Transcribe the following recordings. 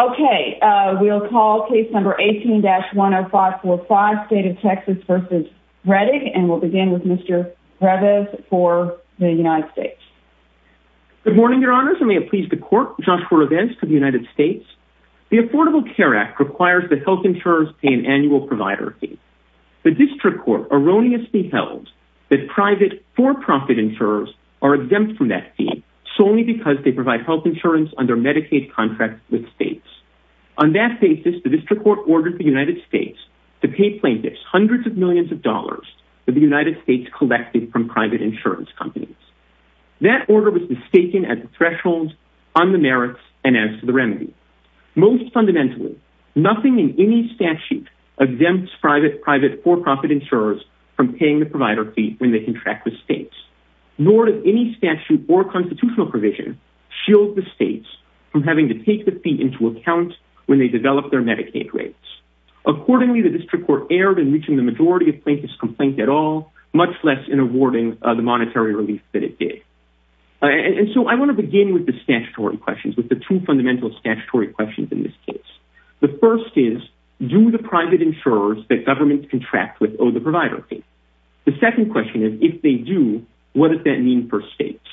Okay we'll call case number 18-10545 State of Texas v. Reddick and we'll begin with Mr. Breves for the United States. Good morning your honors and may it please the court, Joshua Revez from the United States. The Affordable Care Act requires that health insurers pay an annual provider fee. The district court erroneously held that private for-profit insurers are exempt from that fee solely because they provide health insurance under Medicaid contracts with states. On that basis, the district court ordered the United States to pay plaintiffs hundreds of millions of dollars that the United States collected from private insurance companies. That order was mistaken at the thresholds, on the merits, and as to the remedy. Most fundamentally, nothing in any statute exempts private for-profit insurers from paying the provider fee when they contract with states, nor does any statute or constitutional provision shield the states from having to take the fee into account when they develop their Medicaid rates. Accordingly, the district court erred in reaching the majority of plaintiffs' complaints at all, much less in awarding the monetary relief that it did. And so I want to begin with the statutory questions, with the two fundamental statutory questions in this case. The first is, do the private insurers that government contracts with owe the provider fee? The second question is, if they do, what does that mean for states?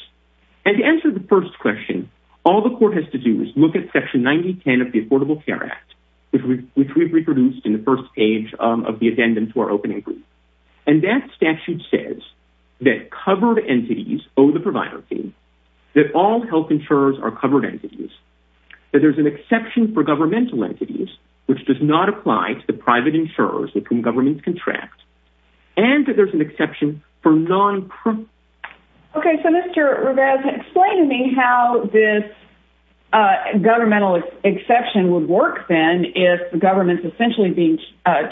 And to answer the first question, all the court has to do is look at section 9010 of the Affordable Care Act, which we've reproduced in the first page of the addendum to our opening brief. And that statute says that covered entities owe the provider fee, that all health insurers are covered entities, that there's an exception for governmental entities, which does not apply to the private insurers with whom governments contract, and that there's an exception for non-privates. Okay, so Mr. Rivez, explain to me how this governmental exception would work, then, if the government's essentially being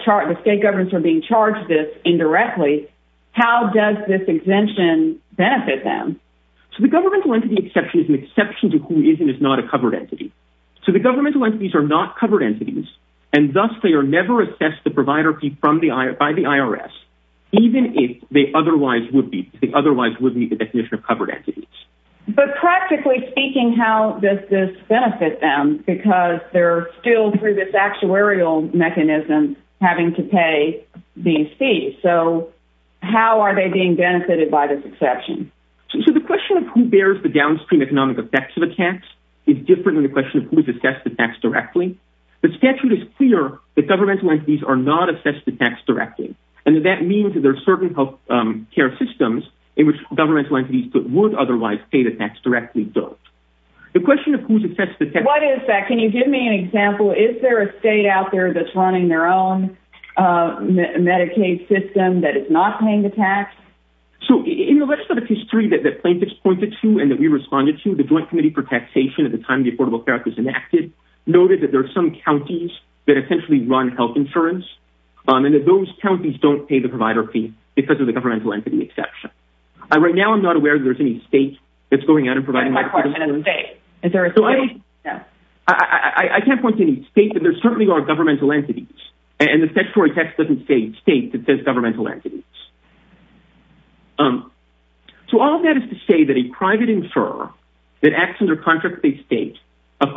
charged, if state governments are being charged this indirectly, how does this exemption benefit them? So the governmental entity exception is an exception to who is and is not a covered entity. So the governmental entities are not covered entities, and thus they are never assessed the by the IRS, even if they otherwise would be the definition of covered entities. But practically speaking, how does this benefit them? Because they're still through this actuarial mechanism having to pay these fees. So how are they being benefited by this exception? So the question of who bears the downstream economic effects of the tax is different than the question of who's assessed the tax directly. The statute is clear that governmental entities are not assessed the tax directly, and that means that there are certain health care systems in which governmental entities that would otherwise pay the tax directly don't. The question of who's assessed the tax... What is that? Can you give me an example? Is there a state out there that's running their own Medicaid system that is not paying the tax? So in the legislative history that plaintiffs pointed to and that we responded to, the Joint Committee for Taxation, at the time the Affordable Care Act was enacted, noted that there are some insurance, and that those counties don't pay the provider fee because of the governmental entity exception. Right now I'm not aware that there's any state that's going out and providing... I can't point to any state, but there certainly are governmental entities, and the statutory text doesn't say state, it says governmental entities. So all that is to say that a private insurer that acts under contract with a state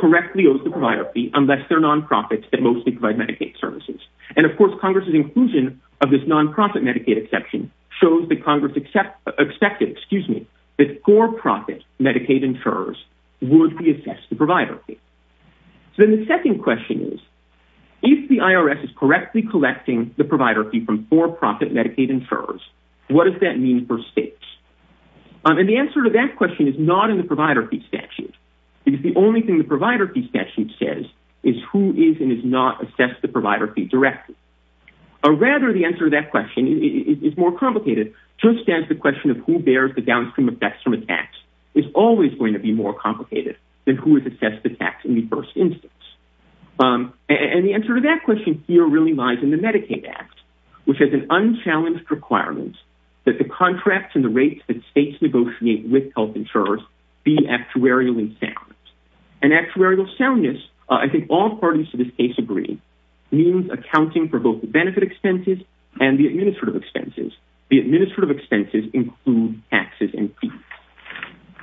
correctly owes the provider fee unless they're non-profits that mostly provide Medicaid services. And of course Congress's inclusion of this non-profit Medicaid exception shows that Congress expected that for-profit Medicaid insurers would be assessed the provider fee. So then the second question is, if the IRS is correctly collecting the provider fee from for-profit Medicaid insurers, what does that mean for states? And the answer to that question is not the provider fee statute, because the only thing the provider fee statute says is who is and has not assessed the provider fee directly. Or rather, the answer to that question is more complicated, just as the question of who bears the downstream effects from a tax is always going to be more complicated than who has assessed the tax in the first instance. And the answer to that question here really lies in the Medicaid Act, which has an unchallenged requirement that the contracts and the rates that states negotiate with health insurers be actuarially sound. And actuarial soundness, I think all parties to this case agree, means accounting for both the benefit expenses and the administrative expenses. The administrative expenses include taxes and fees.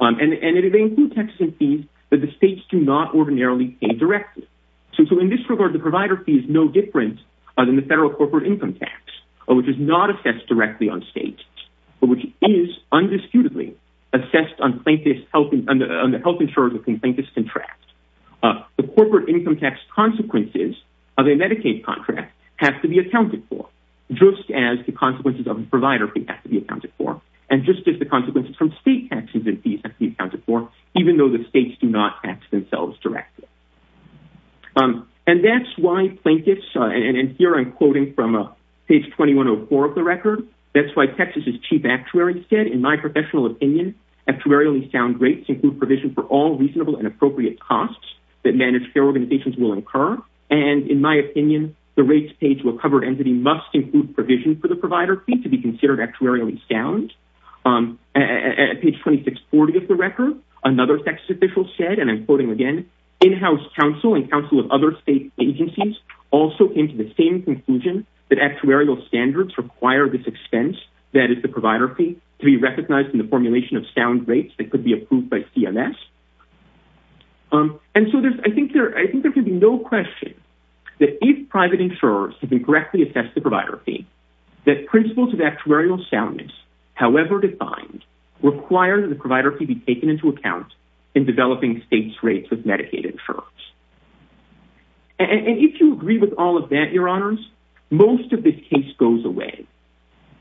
And they include taxes and fees that the states do not ordinarily pay directly. So in this regard, the provider fee is no different than the federal corporate income tax, which is not assessed directly on state, but which is undisputedly assessed on the health insurer's contract. The corporate income tax consequences of a Medicaid contract have to be accounted for, just as the consequences of the provider fee have to be accounted for, and just as the consequences from state taxes and fees have to be accounted for, even though the states do not tax themselves directly. And that's why plaintiffs, and here I'm quoting from page 2104 of the record, that's why Texas is cheap actuary instead. In my professional opinion, actuarially sound rates include provision for all reasonable and appropriate costs that managed care organizations will incur. And in my opinion, the rates paid to a covered entity must include provision for the provider fee to be considered actuarially sound. At page 2640 of the record, another Texas official said, and I'm quoting again, in-house counsel and counsel of other state agencies also came to the same conclusion that actuarial standards require this expense, that is the provider fee, to be recognized in the formulation of sound rates that could be approved by CMS. And so I think there can be no question that if private insurers have incorrectly assessed the provider fee, that principles of actuarial soundness, however defined, require that the provider fee be taken into account in developing states rates with Medicaid insurers. And if you agree with all of that, your honors, most of this case goes away.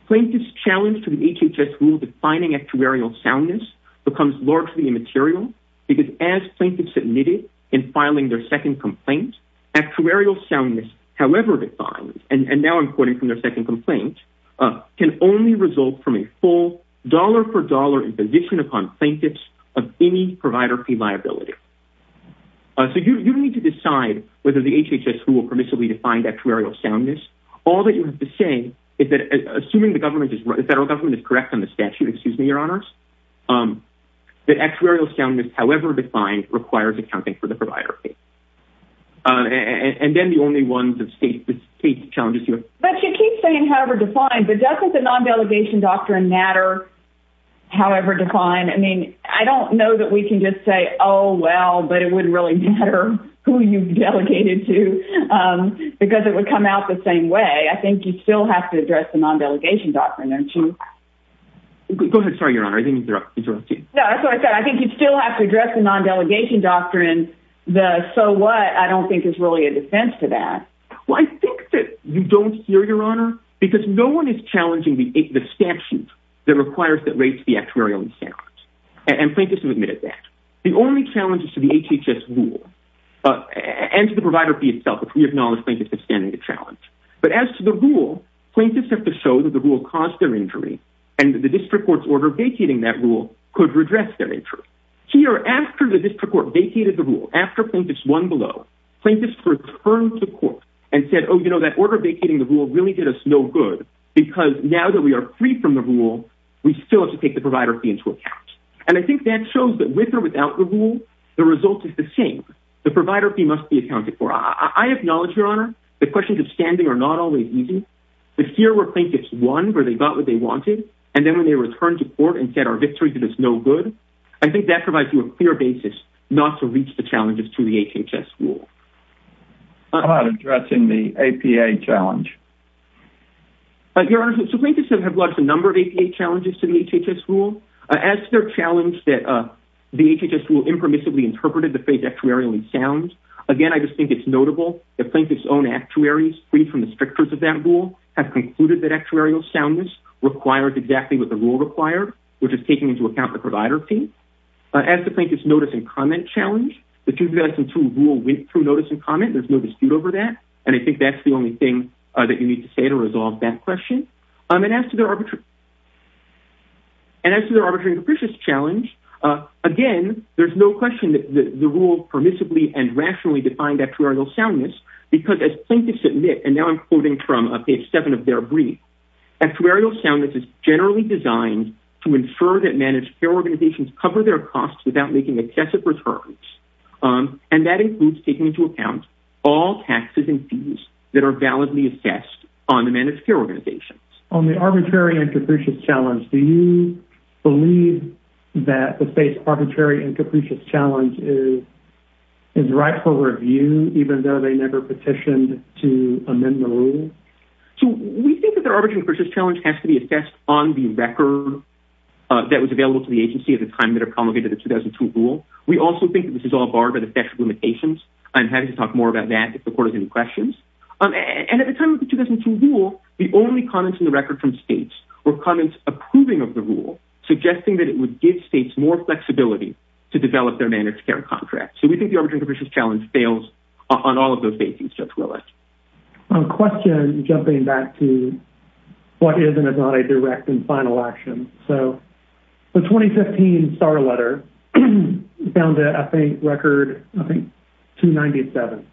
Plaintiffs' challenge to the HHS rule defining actuarial soundness becomes largely immaterial, because as plaintiffs admitted in filing their second complaint, actuarial soundness, however defined, and now I'm quoting from their second complaint, can only result from a full dollar-for-dollar imposition upon plaintiffs of any provider fee liability. So you need to decide whether the HHS rule permissibly defined actuarial soundness. All that you have to say is that, assuming the federal government is correct on the statute, excuse me, your honors, that actuarial soundness, however defined, requires accounting for the provider fee. And then the only ones of state challenges you have. But you keep saying however defined, but doesn't the non-delegation doctrine matter, however defined? I mean, I don't know that we can just say, oh, well, but it wouldn't really matter who you delegated to, because it would come out the same way. I think you still have to address the non-delegation doctrine, don't you? Go ahead. Sorry, your honor, I didn't mean to interrupt. No, that's what I said. I think you still have to address the non-delegation doctrine, the so what, I don't think is really a defense to that. Well, I think that you don't hear, your honor, because no one is challenging the statute that requires that rates be actuarially sound. And plaintiffs have admitted that. The only challenge is to the HHS rule, and to the provider fee itself, if we acknowledge plaintiffs are standing the challenge. But as to the rule, plaintiffs have to show that the rule caused their injury, and the district court's order vacating that rule could redress their injury. Here, after the district court vacated the rule, after plaintiffs won below, plaintiffs returned to court and said, oh, you know, that order vacating the rule really did us no good, because now that we are free from the rule, we still have to take the provider fee into account. And I think that shows that with or without the rule, the result is the same. The provider fee must be accounted for. I acknowledge, your honor, that questions of standing are not always easy, but here where plaintiffs won, where they got what they wanted, and then when they returned to court and said our victory did us no good, I think that provides you a clear basis not to reach the challenges to the HHS rule. How about addressing the APA challenge? Your honor, so plaintiffs have lodged a number of APA challenges to the HHS rule. As to their challenge that the HHS rule impermissibly interpreted the phrase actuarial and sound, again, I just think it's notable that plaintiffs' own actuaries, free from the strictures of that rule, have concluded that actuarial soundness requires exactly what the rule required, which is taking into account the provider fee. As to plaintiffs' notice and comment challenge, the 2002 rule went through notice and comment. There's no dispute over that, and I think that's the only thing that you need to say to resolve that question. And as to their arbitration capricious challenge, again, there's no question that the rule permissibly and rationally defined actuarial soundness, because as plaintiffs admit, and now I'm quoting from page seven of their brief, actuarial soundness is generally designed to infer that managed care organizations cover their costs without making excessive returns. And that includes taking into account all taxes and fees that are validly assessed on the managed care organizations. On the arbitrary and capricious challenge, do you believe that the state's arbitrary and capricious challenge is rightful review, even though they never petitioned to amend the rule? So we think that the arbitrary and capricious challenge has to be assessed on the record that was available to the agency at the time that it promulgated the 2002 rule. We also think that this is all barred by the statute of limitations. I'm happy to talk more about that if the court has any questions. And at the time of the 2002 rule, the only comments in the record from states were comments approving of the rule, suggesting that it would give states more flexibility to develop their managed care contracts. So we think the arbitrary and capricious challenge fails on all of those basings, Judge Willett. On a question, jumping back to what is and is not a direct and final action. So the 2015 SAR letter found a record, I think 297.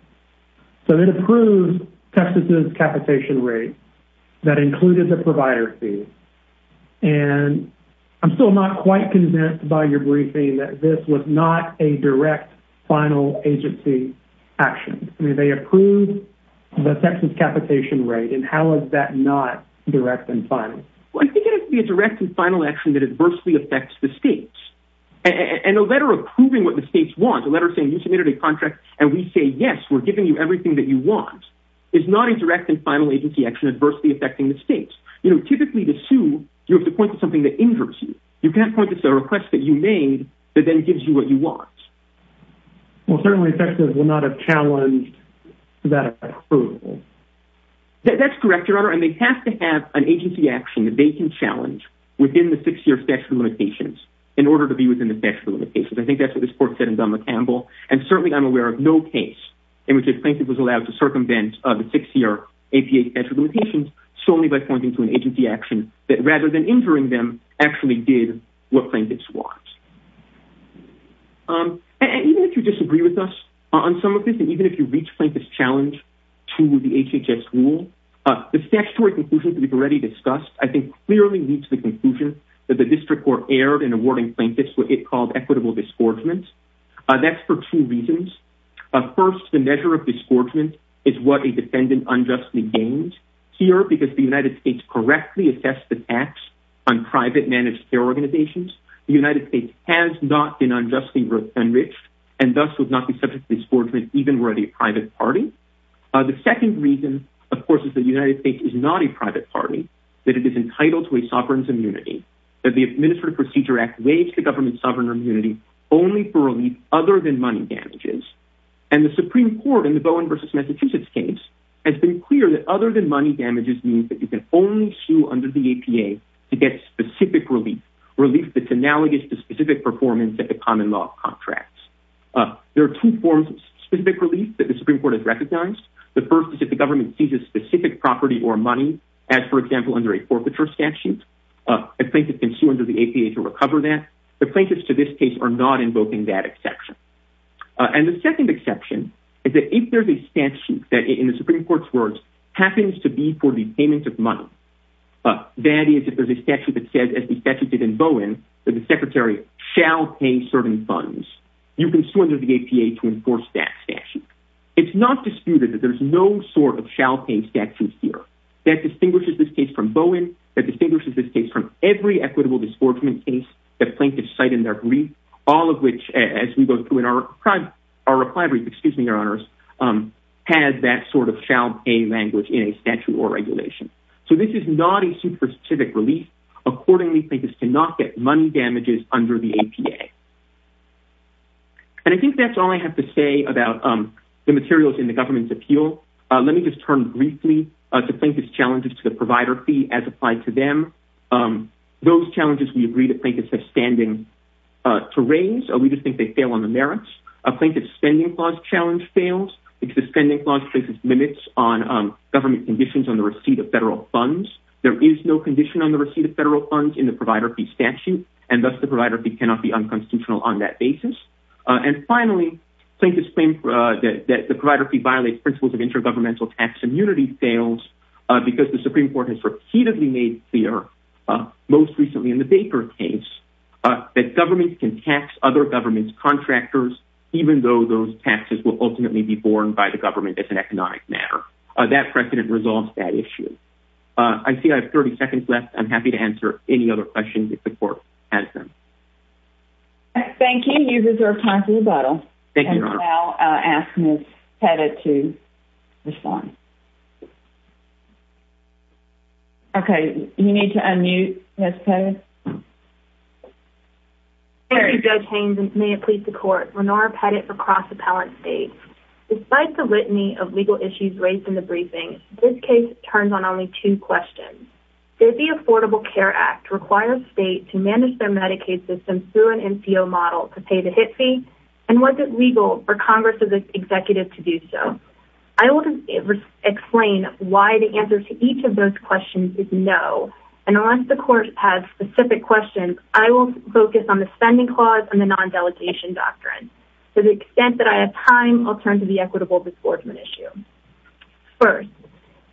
So it approves Texas' capitation rate that included the provider fee. And I'm still not quite convinced by your briefing that this was not a direct final agency action. I mean, they approved the Texas capitation rate, and how is that not direct and final? Well, I think it has to be a direct and final action that adversely affects the states. And a letter approving what the states want, a letter saying you submitted a contract, and we say, yes, we're giving you everything that you want, is not a direct and final agency action adversely affecting the states. You know, typically to sue, you have to point to something that injures you. You can't point to a request that you made that then gives you what you want. Well, certainly Texas will not have challenged that approval. That's correct, Your Honor. And they have to have an agency action that they can challenge within the six-year statute of limitations in order to be within the statute of limitations. I think that's what this court said in Don McCampbell. And certainly I'm aware of no case in which a plaintiff was allowed to circumvent the six-year APA statute of limitations solely by pointing to an agency action that, rather than injuring them, actually did what plaintiffs want. And even if you disagree with us on some of this, and even if you reach plaintiff's challenge to the HHS rule, the statutory conclusions we've already discussed, I think, clearly leads to the conclusion that the district court erred in awarding plaintiffs what it called equitable disgorgement. That's for two reasons. First, the measure of disgorgement is what a United States correctly assessed the tax on private managed care organizations. The United States has not been unjustly enriched and thus would not be subject to disgorgement even were it a private party. The second reason, of course, is the United States is not a private party, that it is entitled to a sovereign's immunity, that the Administrative Procedure Act waives the government's sovereign immunity only for relief other than money damages. And the Supreme Court in the Bowen versus under the APA to get specific relief, relief that's analogous to specific performance at the common law of contracts. There are two forms of specific relief that the Supreme Court has recognized. The first is if the government seizes specific property or money, as for example, under a forfeiture statute. A plaintiff can sue under the APA to recover that. The plaintiffs to this case are not invoking that exception. And the second exception is that if there's a statute that in the Supreme Court's words happens to be for the payment of money, that is, if there's a statute that says, as the statute did in Bowen, that the secretary shall pay certain funds, you can sue under the APA to enforce that statute. It's not disputed that there's no sort of shall pay statute here. That distinguishes this case from Bowen, that distinguishes this case from every equitable disgorgement case that plaintiffs cite in their reply brief, excuse me, your honors, has that sort of shall pay language in a statute or regulation. So this is not a super specific relief. Accordingly, plaintiffs cannot get money damages under the APA. And I think that's all I have to say about the materials in the government's appeal. Let me just turn briefly to plaintiff's challenges to the provider fee as applied to them. Those challenges we agree to plaintiffs have standing to raise. We just think they fail on the merits. A plaintiff's spending clause challenge fails because the spending clause places limits on government conditions on the receipt of federal funds. There is no condition on the receipt of federal funds in the provider fee statute, and thus the provider fee cannot be unconstitutional on that basis. And finally, plaintiffs claim that the provider fee violates principles of intergovernmental tax immunity fails because the Supreme Court has repeatedly made clear, most recently in the Baker case, that governments can tax other governments' contractors, even though those taxes will ultimately be borne by the government as an economic matter. That precedent resolves that issue. I see I have 30 seconds left. I'm happy to answer any other questions if the court has them. Thank you. You reserve time for rebuttal. Thank you, Your Honor. And I'll ask Ms. Pettit to respond. Okay, you need to unmute, Ms. Pettit. Thank you, Judge Haynes, and may it please the court. Lenora Pettit for Cross Appellate States. Despite the litany of legal issues raised in the briefing, this case turns on only two questions. Did the Affordable Care Act require the state to manage their Medicaid system through an NCO model to pay the HIT fee? And was it legal for Congress as an executive to do so? I will explain why the answer to each of those questions is no. And unless the court has specific questions, I will focus on the spending clause and the non-delegation doctrine. To the extent that I have time, I'll turn to the equitable disbordment issue. First,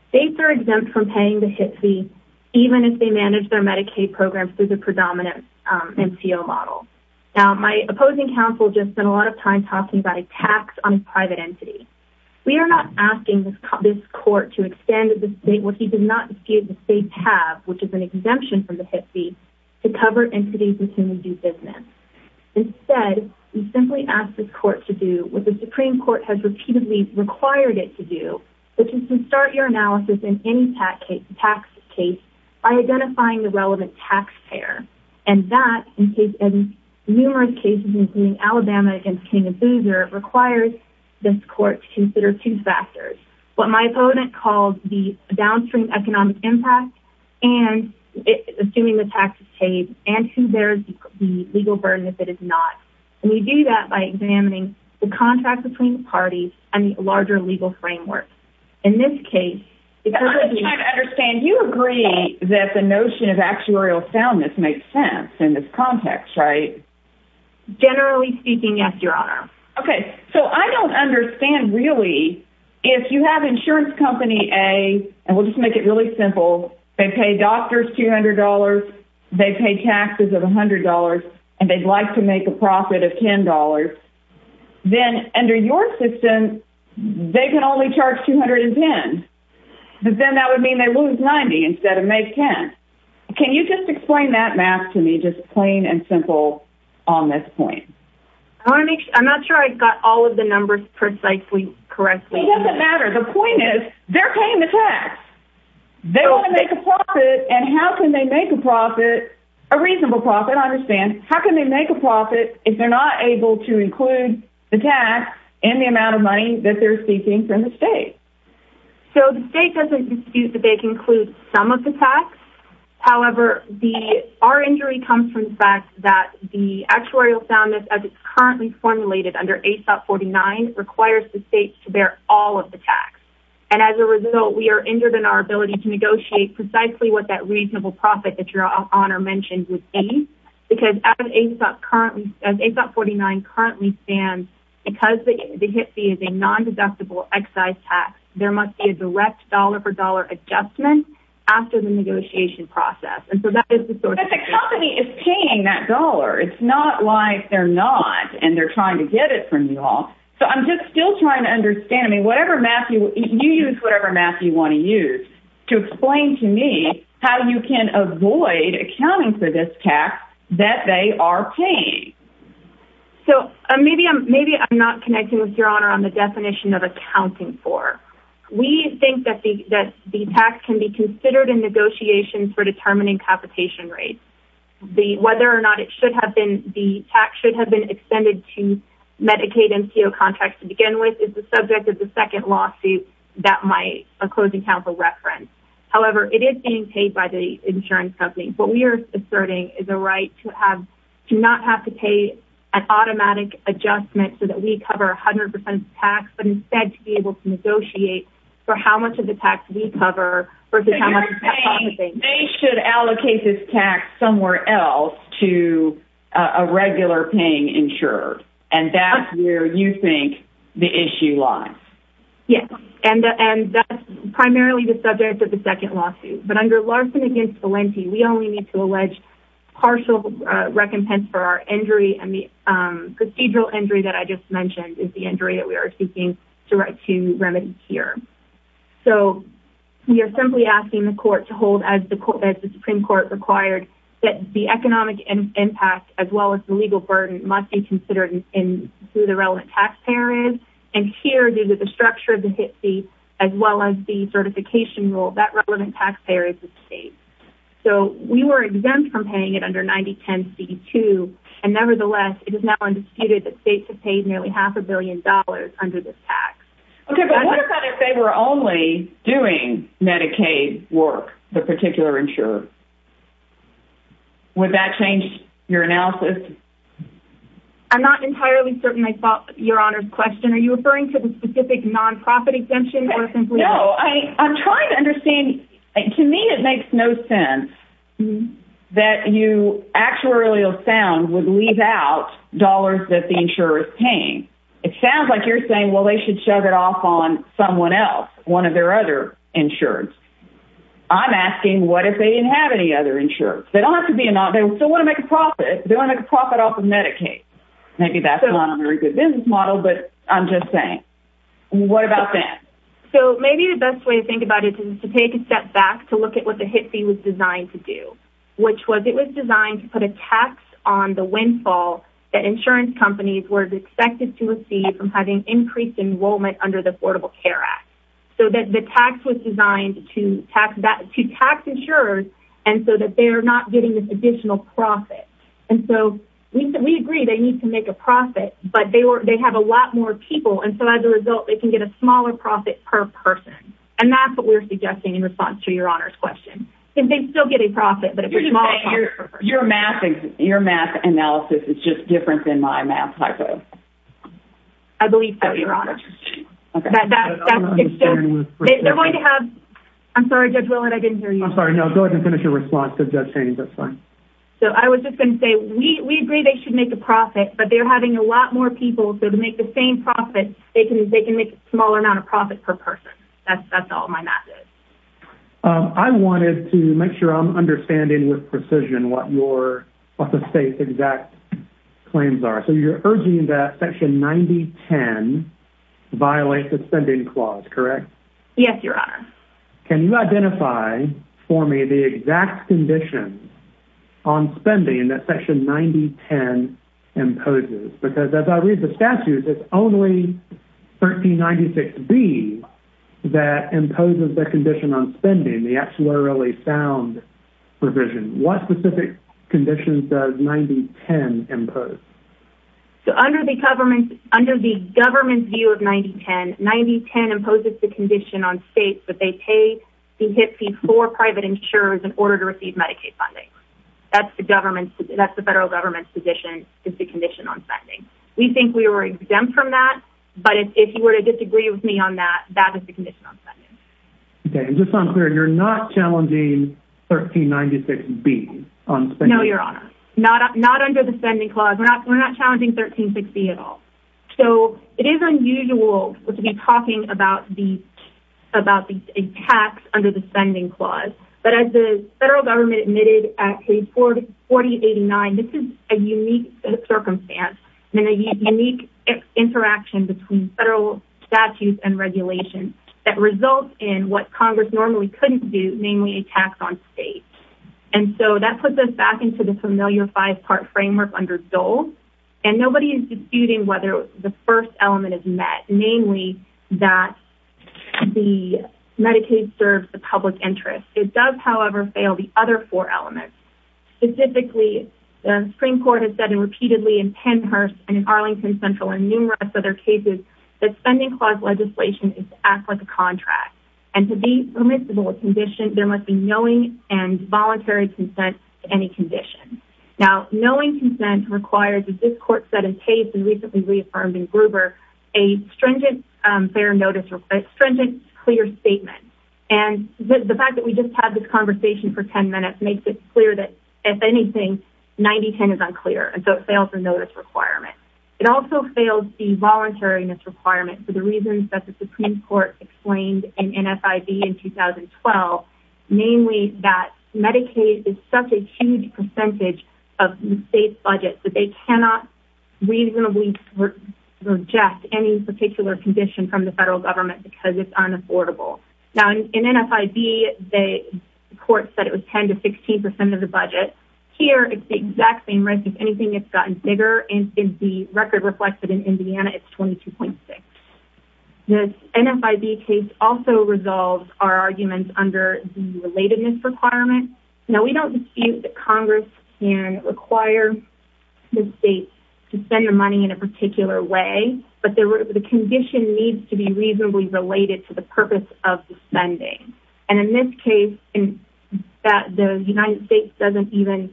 states are exempt from paying the HIT fee even if they manage their Medicaid programs through the predominant NCO model. Now, my opposing counsel just spent a lot of time talking about a tax on a private entity. We are not asking this court to extend to the state what he did not dispute the state have, which is an exemption from the HIT fee, to cover entities with whom we do business. Instead, we simply ask the court to do what the Supreme Court has repeatedly required it to do, which is to start your analysis in any tax case by identifying the relevant taxpayer. And that, in numerous cases including Alabama against King and Boozer, requires this court to consider two factors. What my opponent called the downstream economic impact and assuming the tax is paid and who bears the legal burden if it is not. And we do that by examining the contract between the parties and the larger legal framework. In this case... I'm just trying to understand. You agree that the notion of actuarial soundness makes sense in this context, right? Generally speaking, yes, Your Honor. Okay. So, I don't understand really if you have insurance company A, and we'll just make it really simple, they pay doctors $200, they pay taxes of $100, and they'd like to make a profit of $10, then under your assistance, they can only charge $210. But then that would mean they lose $90 instead of make $10. Can you just explain that math to me just plain and simple on this point? I want to make... I'm not sure I got all of the numbers precisely correctly. It doesn't matter. The point is, they're paying the tax. They want to make a profit, and how can they make a profit, a reasonable profit, I understand. How can they make a profit if they're not able to include the tax and the amount of money that they're seeking from the state? So, the state doesn't dispute that they can include some of the tax. However, our injury comes from the fact that the actuarial soundness, as it's currently formulated under ASOP 49, requires the state to bear all of the tax. And as a result, we are injured in our ability to negotiate precisely what that reasonable profit that Your Honor mentioned would be, because as ASOP 49 currently stands, because the HIPC is a non-deductible excise tax, there must be a direct dollar-for-dollar adjustment after the negotiation process. And so that is the sort of... But the company is paying that dollar. It's not like they're not, and they're trying to get it from you all. So, I'm just still trying to understand. I mean, you use whatever math you want to use to explain to me how you can avoid accounting for this tax that they are paying. So, maybe I'm not connecting with Your Honor on the definition of accounting for. We think that the tax can be considered in negotiations for determining capitation rates. Whether or not it should have been... The tax should have been extended to Medicaid and CO contracts to begin with is the subject of the second lawsuit that my closing counsel referenced. However, it is being paid by the insurance company. What we are asserting is a right to not have to pay an automatic adjustment so that we cover 100% tax, but instead to be able to negotiate for how much of the tax we cover versus how much... So, you're saying they should allocate this tax somewhere else to a regular paying insurer, and that's where you think the issue lies? Yes, and that's primarily the subject of the partial recompense for our injury and the procedural injury that I just mentioned is the injury that we are seeking to remedy here. So, we are simply asking the court to hold, as the Supreme Court required, that the economic impact, as well as the legal burden, must be considered in who the relevant taxpayer is. And here, due to the structure of the HIT rule, that relevant taxpayer is the state. So, we were exempt from paying it under 9010C2, and nevertheless, it is now undisputed that states have paid nearly half a billion dollars under this tax. Okay, but what if they were only doing Medicaid work, the particular insurer? Would that change your analysis? I'm not entirely certain I saw your Honor's question. Are you trying to understand? To me, it makes no sense that you actually sound would leave out dollars that the insurer is paying. It sounds like you're saying, well, they should shove it off on someone else, one of their other insurers. I'm asking, what if they didn't have any other insurers? They don't have to be... They still want to make a profit. They want to make a profit off of Medicaid. Maybe that's not a very good business model, but I'm just saying. What about that? So, maybe the best way to think about it is to take a step back to look at what the HIT fee was designed to do, which was it was designed to put a tax on the windfall that insurance companies were expected to receive from having increased enrollment under the Affordable Care Act, so that the tax was designed to tax insurers, and so that they are not getting this additional profit. And so, we agree they need to make a profit, but they have a lot more people, and so as a result, they can get a smaller profit per person. And that's what we're suggesting in response to your honor's question. Can they still get a profit, but a pretty small profit per person? You're math analysis is just different than my math typo. I believe so, your honor. Okay. That's... They're going to have... I'm sorry, Judge Willard, I didn't hear you. I'm sorry. No, go ahead and finish your response to Judge Chaney. That's fine. So, I was just going to say, we agree they should make a profit, but they're having a lot more people. So, to make the same profit, they can make a smaller amount of profit per person. That's all my math is. I wanted to make sure I'm understanding with precision what the state's exact claims are. So, you're urging that section 9010 violate the spending clause, correct? Yes, your honor. Can you identify for me the exact conditions on spending that section 9010 imposes? Because as I read the statutes, it's only 1396B that imposes the condition on spending, the axillary sound provision. What specific conditions does 9010 impose? So, under the government's view of 9010, 9010 imposes the condition on states that they pay the HIPP fee for private insurers in order to receive Medicaid funding. That's the federal government's position is the condition on spending. We think we were exempt from that, but if you were to disagree with me on that, that is the condition on spending. Okay. And just to be clear, you're not challenging 1396B on spending? No, your honor. Not under the spending clause. We're not challenging 136B at all. So, it is unusual to be talking about the tax under the spending clause. But as the a unique circumstance and a unique interaction between federal statutes and regulations that result in what Congress normally couldn't do, namely a tax on states. And so, that puts us back into the familiar five-part framework under Dole. And nobody is disputing whether the first element is met, namely that the Medicaid serves the public interest. It does, however, fail the other four elements. Specifically, the Supreme Court has said repeatedly in Pennhurst and in Arlington Central and numerous other cases that spending clause legislation is to act like a contract. And to be permissible a condition, there must be knowing and voluntary consent to any condition. Now, knowing consent requires, as this court said in pace and recently reaffirmed in Gruber, a stringent clear statement. And the fact that we just had this conversation for 10 minutes makes it clear that, if anything, 90-10 is unclear. And so, it fails the notice requirement. It also fails the voluntariness requirement for the reasons that the Supreme Court explained in NFIB in 2012, namely that Medicaid is such a huge percentage of the state's budget that they cannot reasonably reject any particular condition from the federal government because it's unaffordable. Now, in NFIB, the court said it was 10 to 16 percent of the budget. Here, it's the exact same risk. If anything, it's gotten bigger. And the record reflects that in Indiana, it's 22.6. This NFIB case also resolves our arguments under the relatedness requirement. Now, we don't dispute that Congress can require the state to spend the money in a particular way, but the condition needs to be reasonably related to the purpose of the spending. And in this case, the United States doesn't even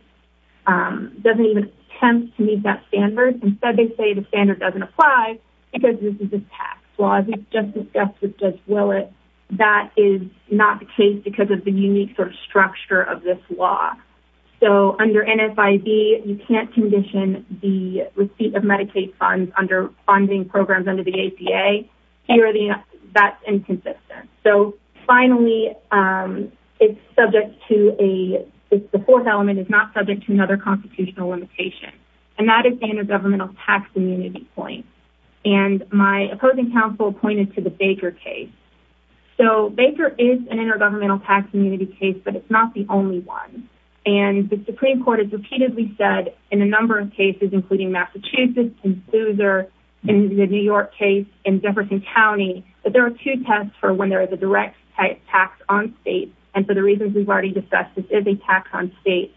attempt to meet that standard. Instead, they say the standard doesn't apply because this is a tax law. As we've just discussed with Judge Willett, that is not the case because of the unique sort of structure of this law. So, under NFIB, you can't condition the receipt of here, that's inconsistent. So, finally, it's subject to a, the fourth element is not subject to another constitutional limitation, and that is the intergovernmental tax immunity point. And my opposing counsel pointed to the Baker case. So, Baker is an intergovernmental tax immunity case, but it's not the only one. And the Supreme Court has repeatedly said in a number of cases, including Massachusetts and Sousa, in the New York case, in Jefferson County, that there are two tests for when there is a direct tax on states. And for the reasons we've already discussed, this is a tax on states.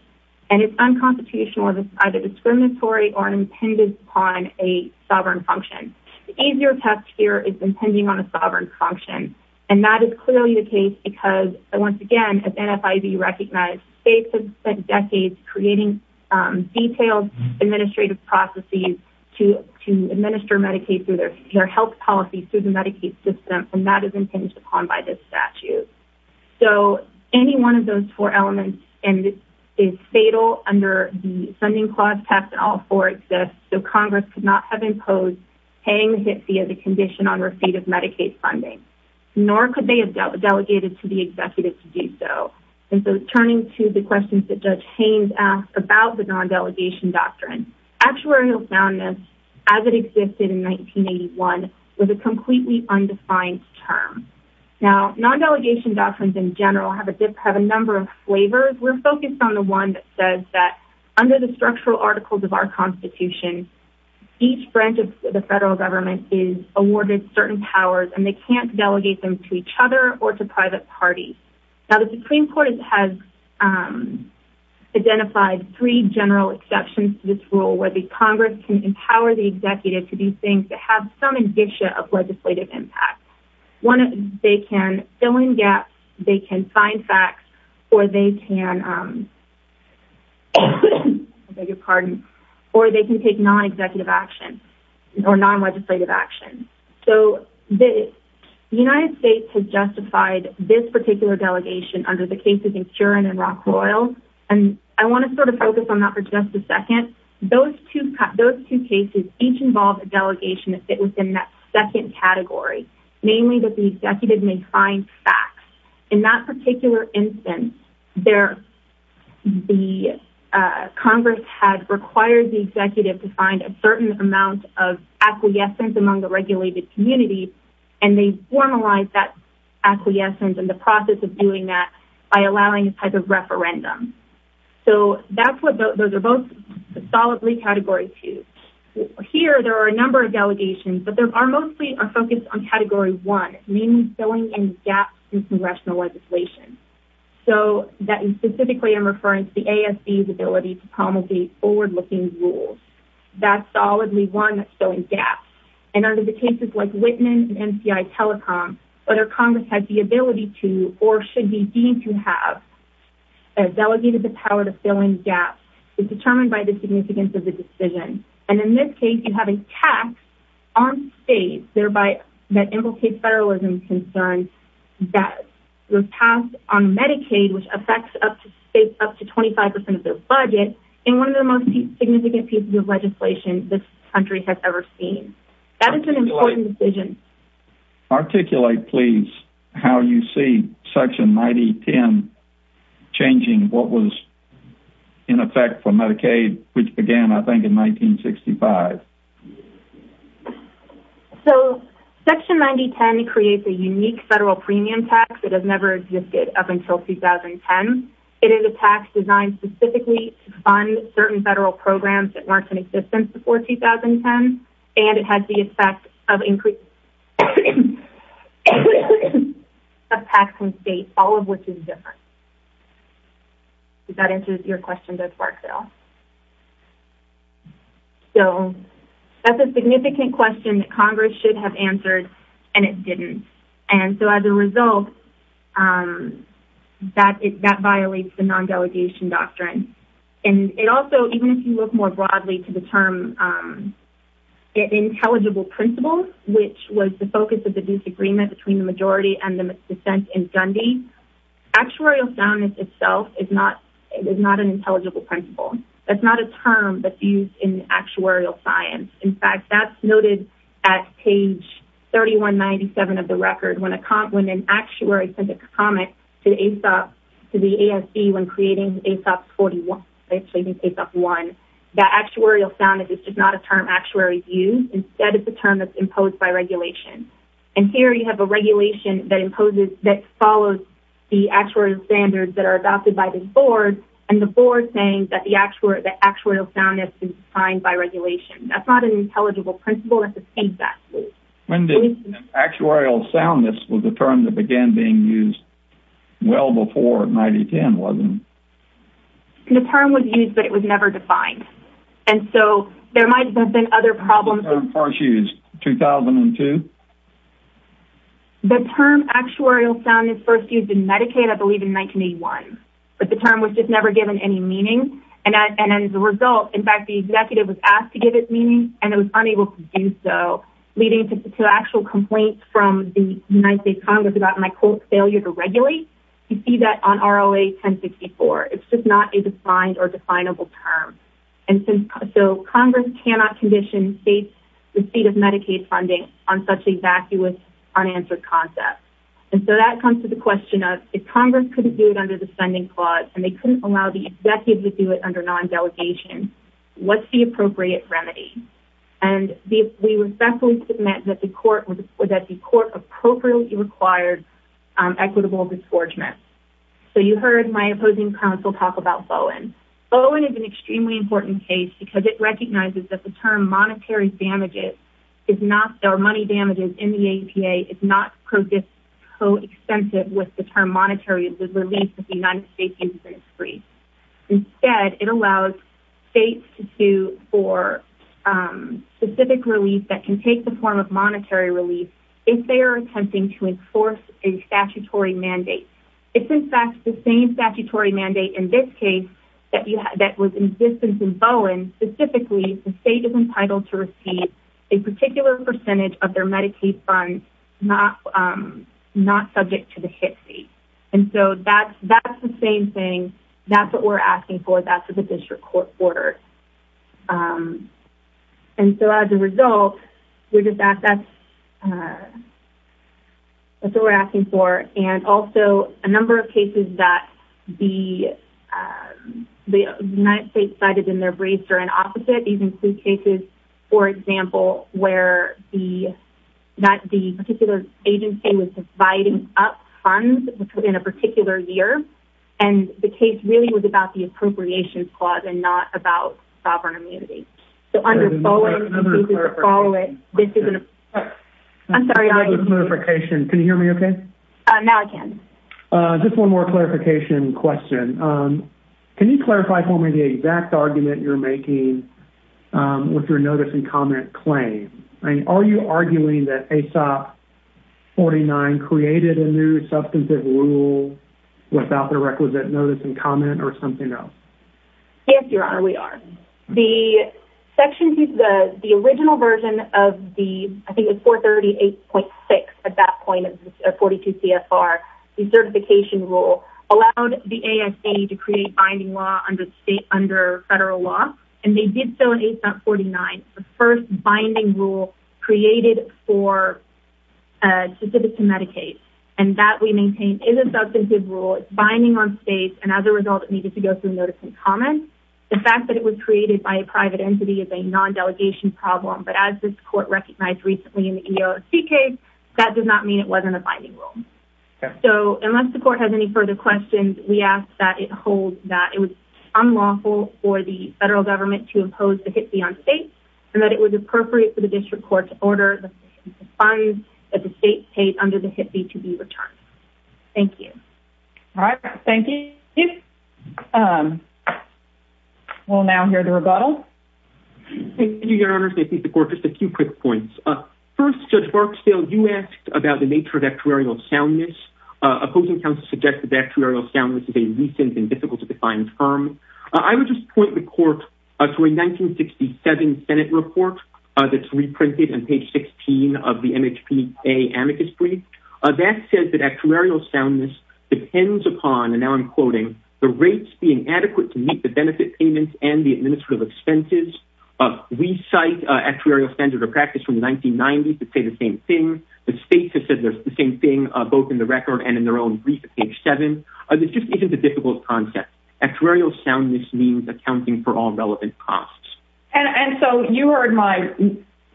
And it's unconstitutional, it's either discriminatory or an impendence on a sovereign function. The easier test here is impending on a sovereign function. And that is clearly the case because, once again, as NFIB recognized, states have spent creating detailed administrative processes to administer Medicaid through their health policies, through the Medicaid system, and that is impinged upon by this statute. So, any one of those four elements is fatal under the funding clause test, and all four exist. So, Congress could not have imposed paying a hit fee as a condition on receipt of Medicaid funding, nor could they have delegated to the executive to do so. And so, turning to the questions that Haines asked about the non-delegation doctrine, actuarial soundness, as it existed in 1981, was a completely undefined term. Now, non-delegation doctrines in general have a number of flavors. We're focused on the one that says that, under the structural articles of our Constitution, each branch of the federal government is awarded certain powers, and they can't delegate them to each other or to private parties. Now, the Supreme Court has identified three general exceptions to this rule, where the Congress can empower the executive to do things that have some indicia of legislative impact. One, they can fill in gaps, they can find facts, or they can, I beg your pardon, or they can take non-executive action or non-legislative action. So, the United States has justified this particular delegation under the cases in Curran and Rockwell, and I want to sort of focus on that for just a second. Those two cases each involve a delegation that fit within that second category, namely that the executive may find facts. In that particular instance, the Congress had required the executive to find a certain amount of acquiescence among the regulated community, and they formalized that acquiescence and the process of doing that by allowing a type of referendum. So, those are both solidly Category 2. Here, there are a number of delegations, but they are mostly focused on Category 1, meaning filling in gaps in congressional legislation. So, specifically, I'm referring to the ASB's ability to promulgate forward-looking rules. That's solidly one that's filling gaps, and under the cases like Whitman and NCI Telecom, whether Congress has the ability to or should be deemed to have delegated the power to fill in gaps is determined by the significance of the decision, and in this case, you have a tax on states thereby that implicates federalism concerns that was passed on Medicaid, which affects up to states up to 25% of their budget, and one of the most significant pieces of legislation this country has ever seen. That is an important decision. Articulate, please, how you see Section 9010 changing what was in effect for Medicaid, which began, I think, in 1965. So, Section 9010 creates a unique federal premium tax that has never existed up until 2010. It is a tax designed specifically to fund certain federal programs that weren't in existence before 2010, and it has the effect of increasing the tax on states, all of which is different. Does that answer your question, Ms. Barksdale? So, that's a significant question that Congress should have answered, and it didn't, and so, as a result, that violates the non-delegation doctrine, and it also, even if you look more broadly to the term intelligible principles, which was the focus of the disagreement between the majority and the dissent in Dundee, actuarial soundness itself is not an intelligible principle. That's not a term that's used in actuarial science. In fact, that's noted at page 3197 of the record, when an actuary sent a comment to the ASB when creating ASOP 41, actually, I think ASOP 1, that actuarial soundness is just not a term actuaries use. Instead, it's a term that's imposed by regulation, and here, you have a regulation that follows the board, and the board saying that the actuarial soundness is defined by regulation. That's not an intelligible principle. That's a state statute. When did actuarial soundness was a term that began being used? Well before 1910, wasn't it? The term was used, but it was never defined, and so, there might have been other problems. When was the term first used? 2002? The term actuarial soundness first used in Medicaid, I believe, in 1981, but the term was just never given any meaning, and as a result, in fact, the executive was asked to give it meaning, and it was unable to do so, leading to actual complaints from the United States Congress about my quote, failure to regulate. You see that on ROA 1064. It's just not a defined or definable term, and so, Congress cannot condition state's receipt of Medicaid funding on such a vacuous, unanswered concept, and so, that comes to the question of if Congress couldn't do it under the spending clause, and they couldn't allow the executive to do it under non-delegation, what's the appropriate remedy, and we respectfully submit that the court appropriately required equitable disgorgement, so you heard my opposing counsel talk about Bowen. Bowen is an extremely important case because it recognizes that the term monetary damages is not, or money damages in the APA is not co-extensive with the term monetary relief of the United States insurance freeze. Instead, it allows states to sue for specific relief that can take the form of monetary relief if they are attempting to enforce a statutory mandate. It's, in fact, the same statutory mandate in this case that was in existence in Bowen. Specifically, the state is entitled to receive a particular percentage of their Medicaid funds not subject to the HIPC, and so, that's the same thing. That's what we're asking for. That's what the district court ordered, and so, as a result, that's what we're asking for, and also, a number of cases that the United States cited in their briefs are an opposite. These include cases, for example, where the particular agency was dividing up funds in a particular year, and the case really was about the appropriations clause and not about sovereign Now I can. Just one more clarification question. Can you clarify for me the exact argument you're making with your notice and comment claim? Are you arguing that ASOP 49 created a new substantive rule without the requisite notice and comment or something else? Yes, Your Honor, we are. The original version of the, I think it's 438.6 at that point, 42 CFR, the certification rule, allowed the ASA to create binding law under federal law, and they did so in ASOP 49. The first binding rule created for, specific to Medicaid, and that we maintain is a substantive rule. It's binding on states, and as a result, it needed to go through notice and comment. The fact that it was created by a private entity is a non-delegation problem, but as this court recognized recently in the EOSC case, that does not mean it wasn't a binding rule. So unless the court has any further questions, we ask that it hold that it was unlawful for the federal government to impose the HIPAA on states, and that it was appropriate for the district court to order the funds that the state paid under the HIPAA to be returned. Thank you. All right. Thank you. We'll now hear the rebuttal. Thank you, Your Honor. Just a few quick points. First, Judge Barksdale, you asked about the nature of actuarial soundness. Opposing counsel suggested that actuarial soundness is a recent and difficult to define term. I would just point the court to a 1967 Senate report that's reprinted on page 16 of the MHPA amicus brief. That says that actuarial soundness depends upon, and now I'm quoting, the rates being adequate to meet the benefit payments and the administrative expenses. We cite actuarial standard of practice from the same thing. The states have said the same thing, both in the record and in their own brief at page seven. This just isn't a difficult concept. Actuarial soundness means accounting for all relevant costs. And so you heard my,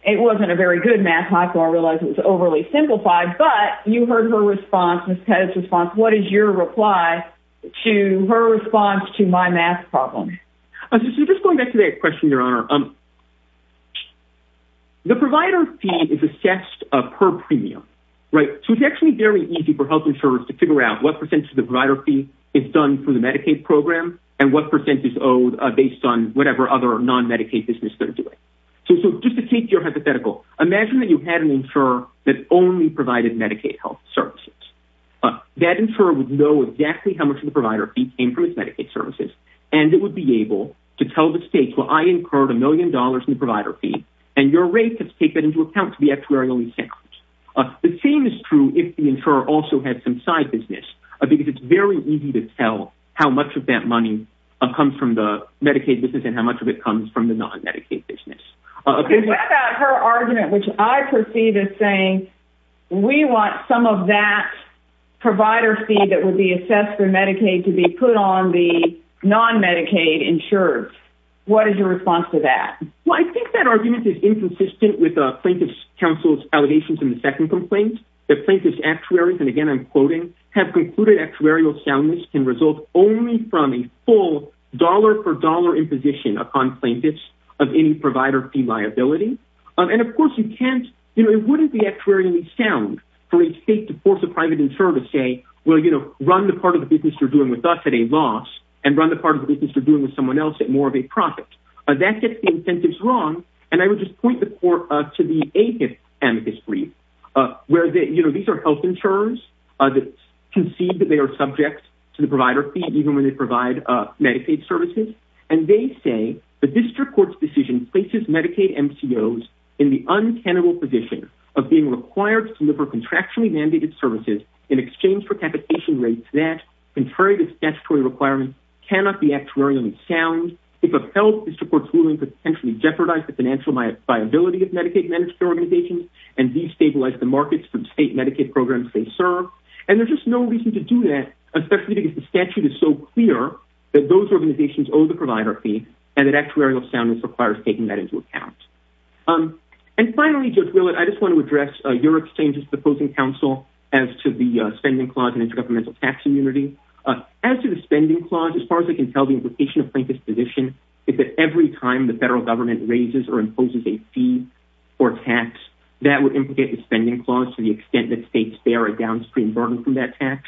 it wasn't a very good math, so I realize it was overly simplified, but you heard her response, Ms. Pettis' response. What is your reply to her response to my math problem? Just going back to that question, Your Honor, the provider fee is assessed per premium, right? So it's actually very easy for health insurers to figure out what percentage of the provider fee is done through the Medicaid program and what percentage is owed based on whatever other non-Medicaid business they're doing. So just to keep your hypothetical, imagine that you had an insurer that only provided Medicaid health services. That insurer would know exactly how much of the provider fee came from its Medicaid services. And it would be able to tell the state, well, I incurred a million dollars in the provider fee and your rate has taken into account to be actuarially sound. The same is true if the insurer also had some side business, because it's very easy to tell how much of that money comes from the Medicaid business and how much of it comes from the non-Medicaid business. Her argument, which I perceive as saying, we want some of that provider fee that would be assessed for Medicaid to be put on the non-Medicaid insurers. What is your response to that? Well, I think that argument is inconsistent with Plaintiff's Council's allegations in the second complaint. The plaintiff's actuaries, and again, I'm quoting, have concluded actuarial soundness can result only from a full dollar for dollar imposition upon plaintiffs of any provider fee liability. And of course you can't, you know, it wouldn't be actuarially sound for a state to force a private insurer to say, well, you know, run the part of the business you're doing with us at a loss and run the part of the business you're doing with someone else at more of a profit. That gets the incentives wrong. And I would just point the court to the eighth amicus brief, where these are health insurers that concede that they are subject to the provider fee, even when they provide Medicaid services. And they say the district court's decision places Medicaid MCOs in the untenable position of being required to deliver contractually mandated services in exchange for capitation rates that, contrary to statutory requirements, cannot be actuarially sound. If a health district court is willing to potentially jeopardize the financial viability of Medicaid management organizations and destabilize the markets from state Medicaid programs they serve. And there's just no reason to do that, especially if the statute is so clear that those organizations owe the provider fee and that actuarial soundness requires taking that into account. And finally, Judge Willett, I just want to address your exchange with the opposing council as to the spending clause and intergovernmental tax immunity. As to the spending clause, as far as I can tell, the implication of Plankett's position is that every time the federal government raises or imposes a fee or tax, that would implicate the spending clause to the extent that states bear a downstream burden from that tax.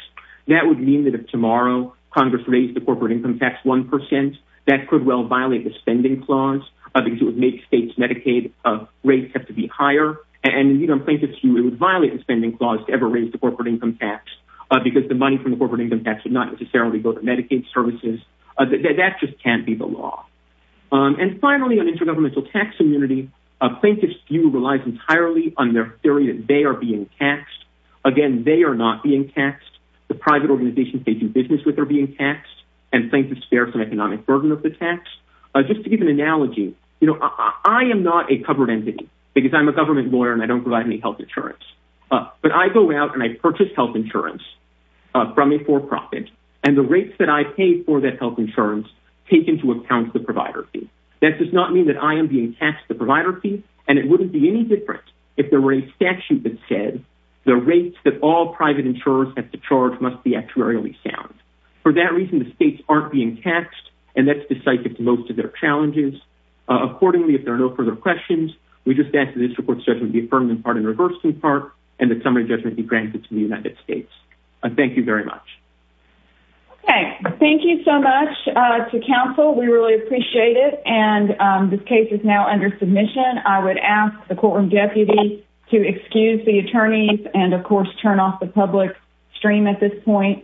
That would mean that if tomorrow Congress raised the corporate income tax 1 percent, that could well violate the spending clause because it would make states Medicaid rates have to be higher. And Plankett's view, it would violate the spending clause to ever raise the corporate income tax because the money from the corporate income tax would not necessarily go to Medicaid services. That just can't be the law. And finally, on intergovernmental tax immunity, Plankett's view relies entirely on their theory that they are being taxed. Again, they are not being taxed. The private organizations they do business with are being taxed, and Plankett's fearsome economic burden of the tax. Just to give an analogy, you know, I am not a covered entity because I'm a government lawyer and I don't provide any health insurance. But I go out and I purchase health insurance from a for-profit, and the rates that I pay for that health insurance take into account the provider fee. That does not mean that I am being taxed the provider fee, and it wouldn't be any different if there were a statute that said the rates that all private insurers have to charge must be actuarially sound. For that reason, the states aren't being taxed, and that's cited to most of their challenges. Accordingly, if there are no further questions, we just ask that this report's judgment be affirmed in part and reversed in part, and that summary judgment be granted to the United States. Thank you very much. Okay, thank you so much to counsel. We really appreciate it, and this case is now under submission. I would ask the courtroom deputy to excuse the attorneys and of course turn off the public stream at this point.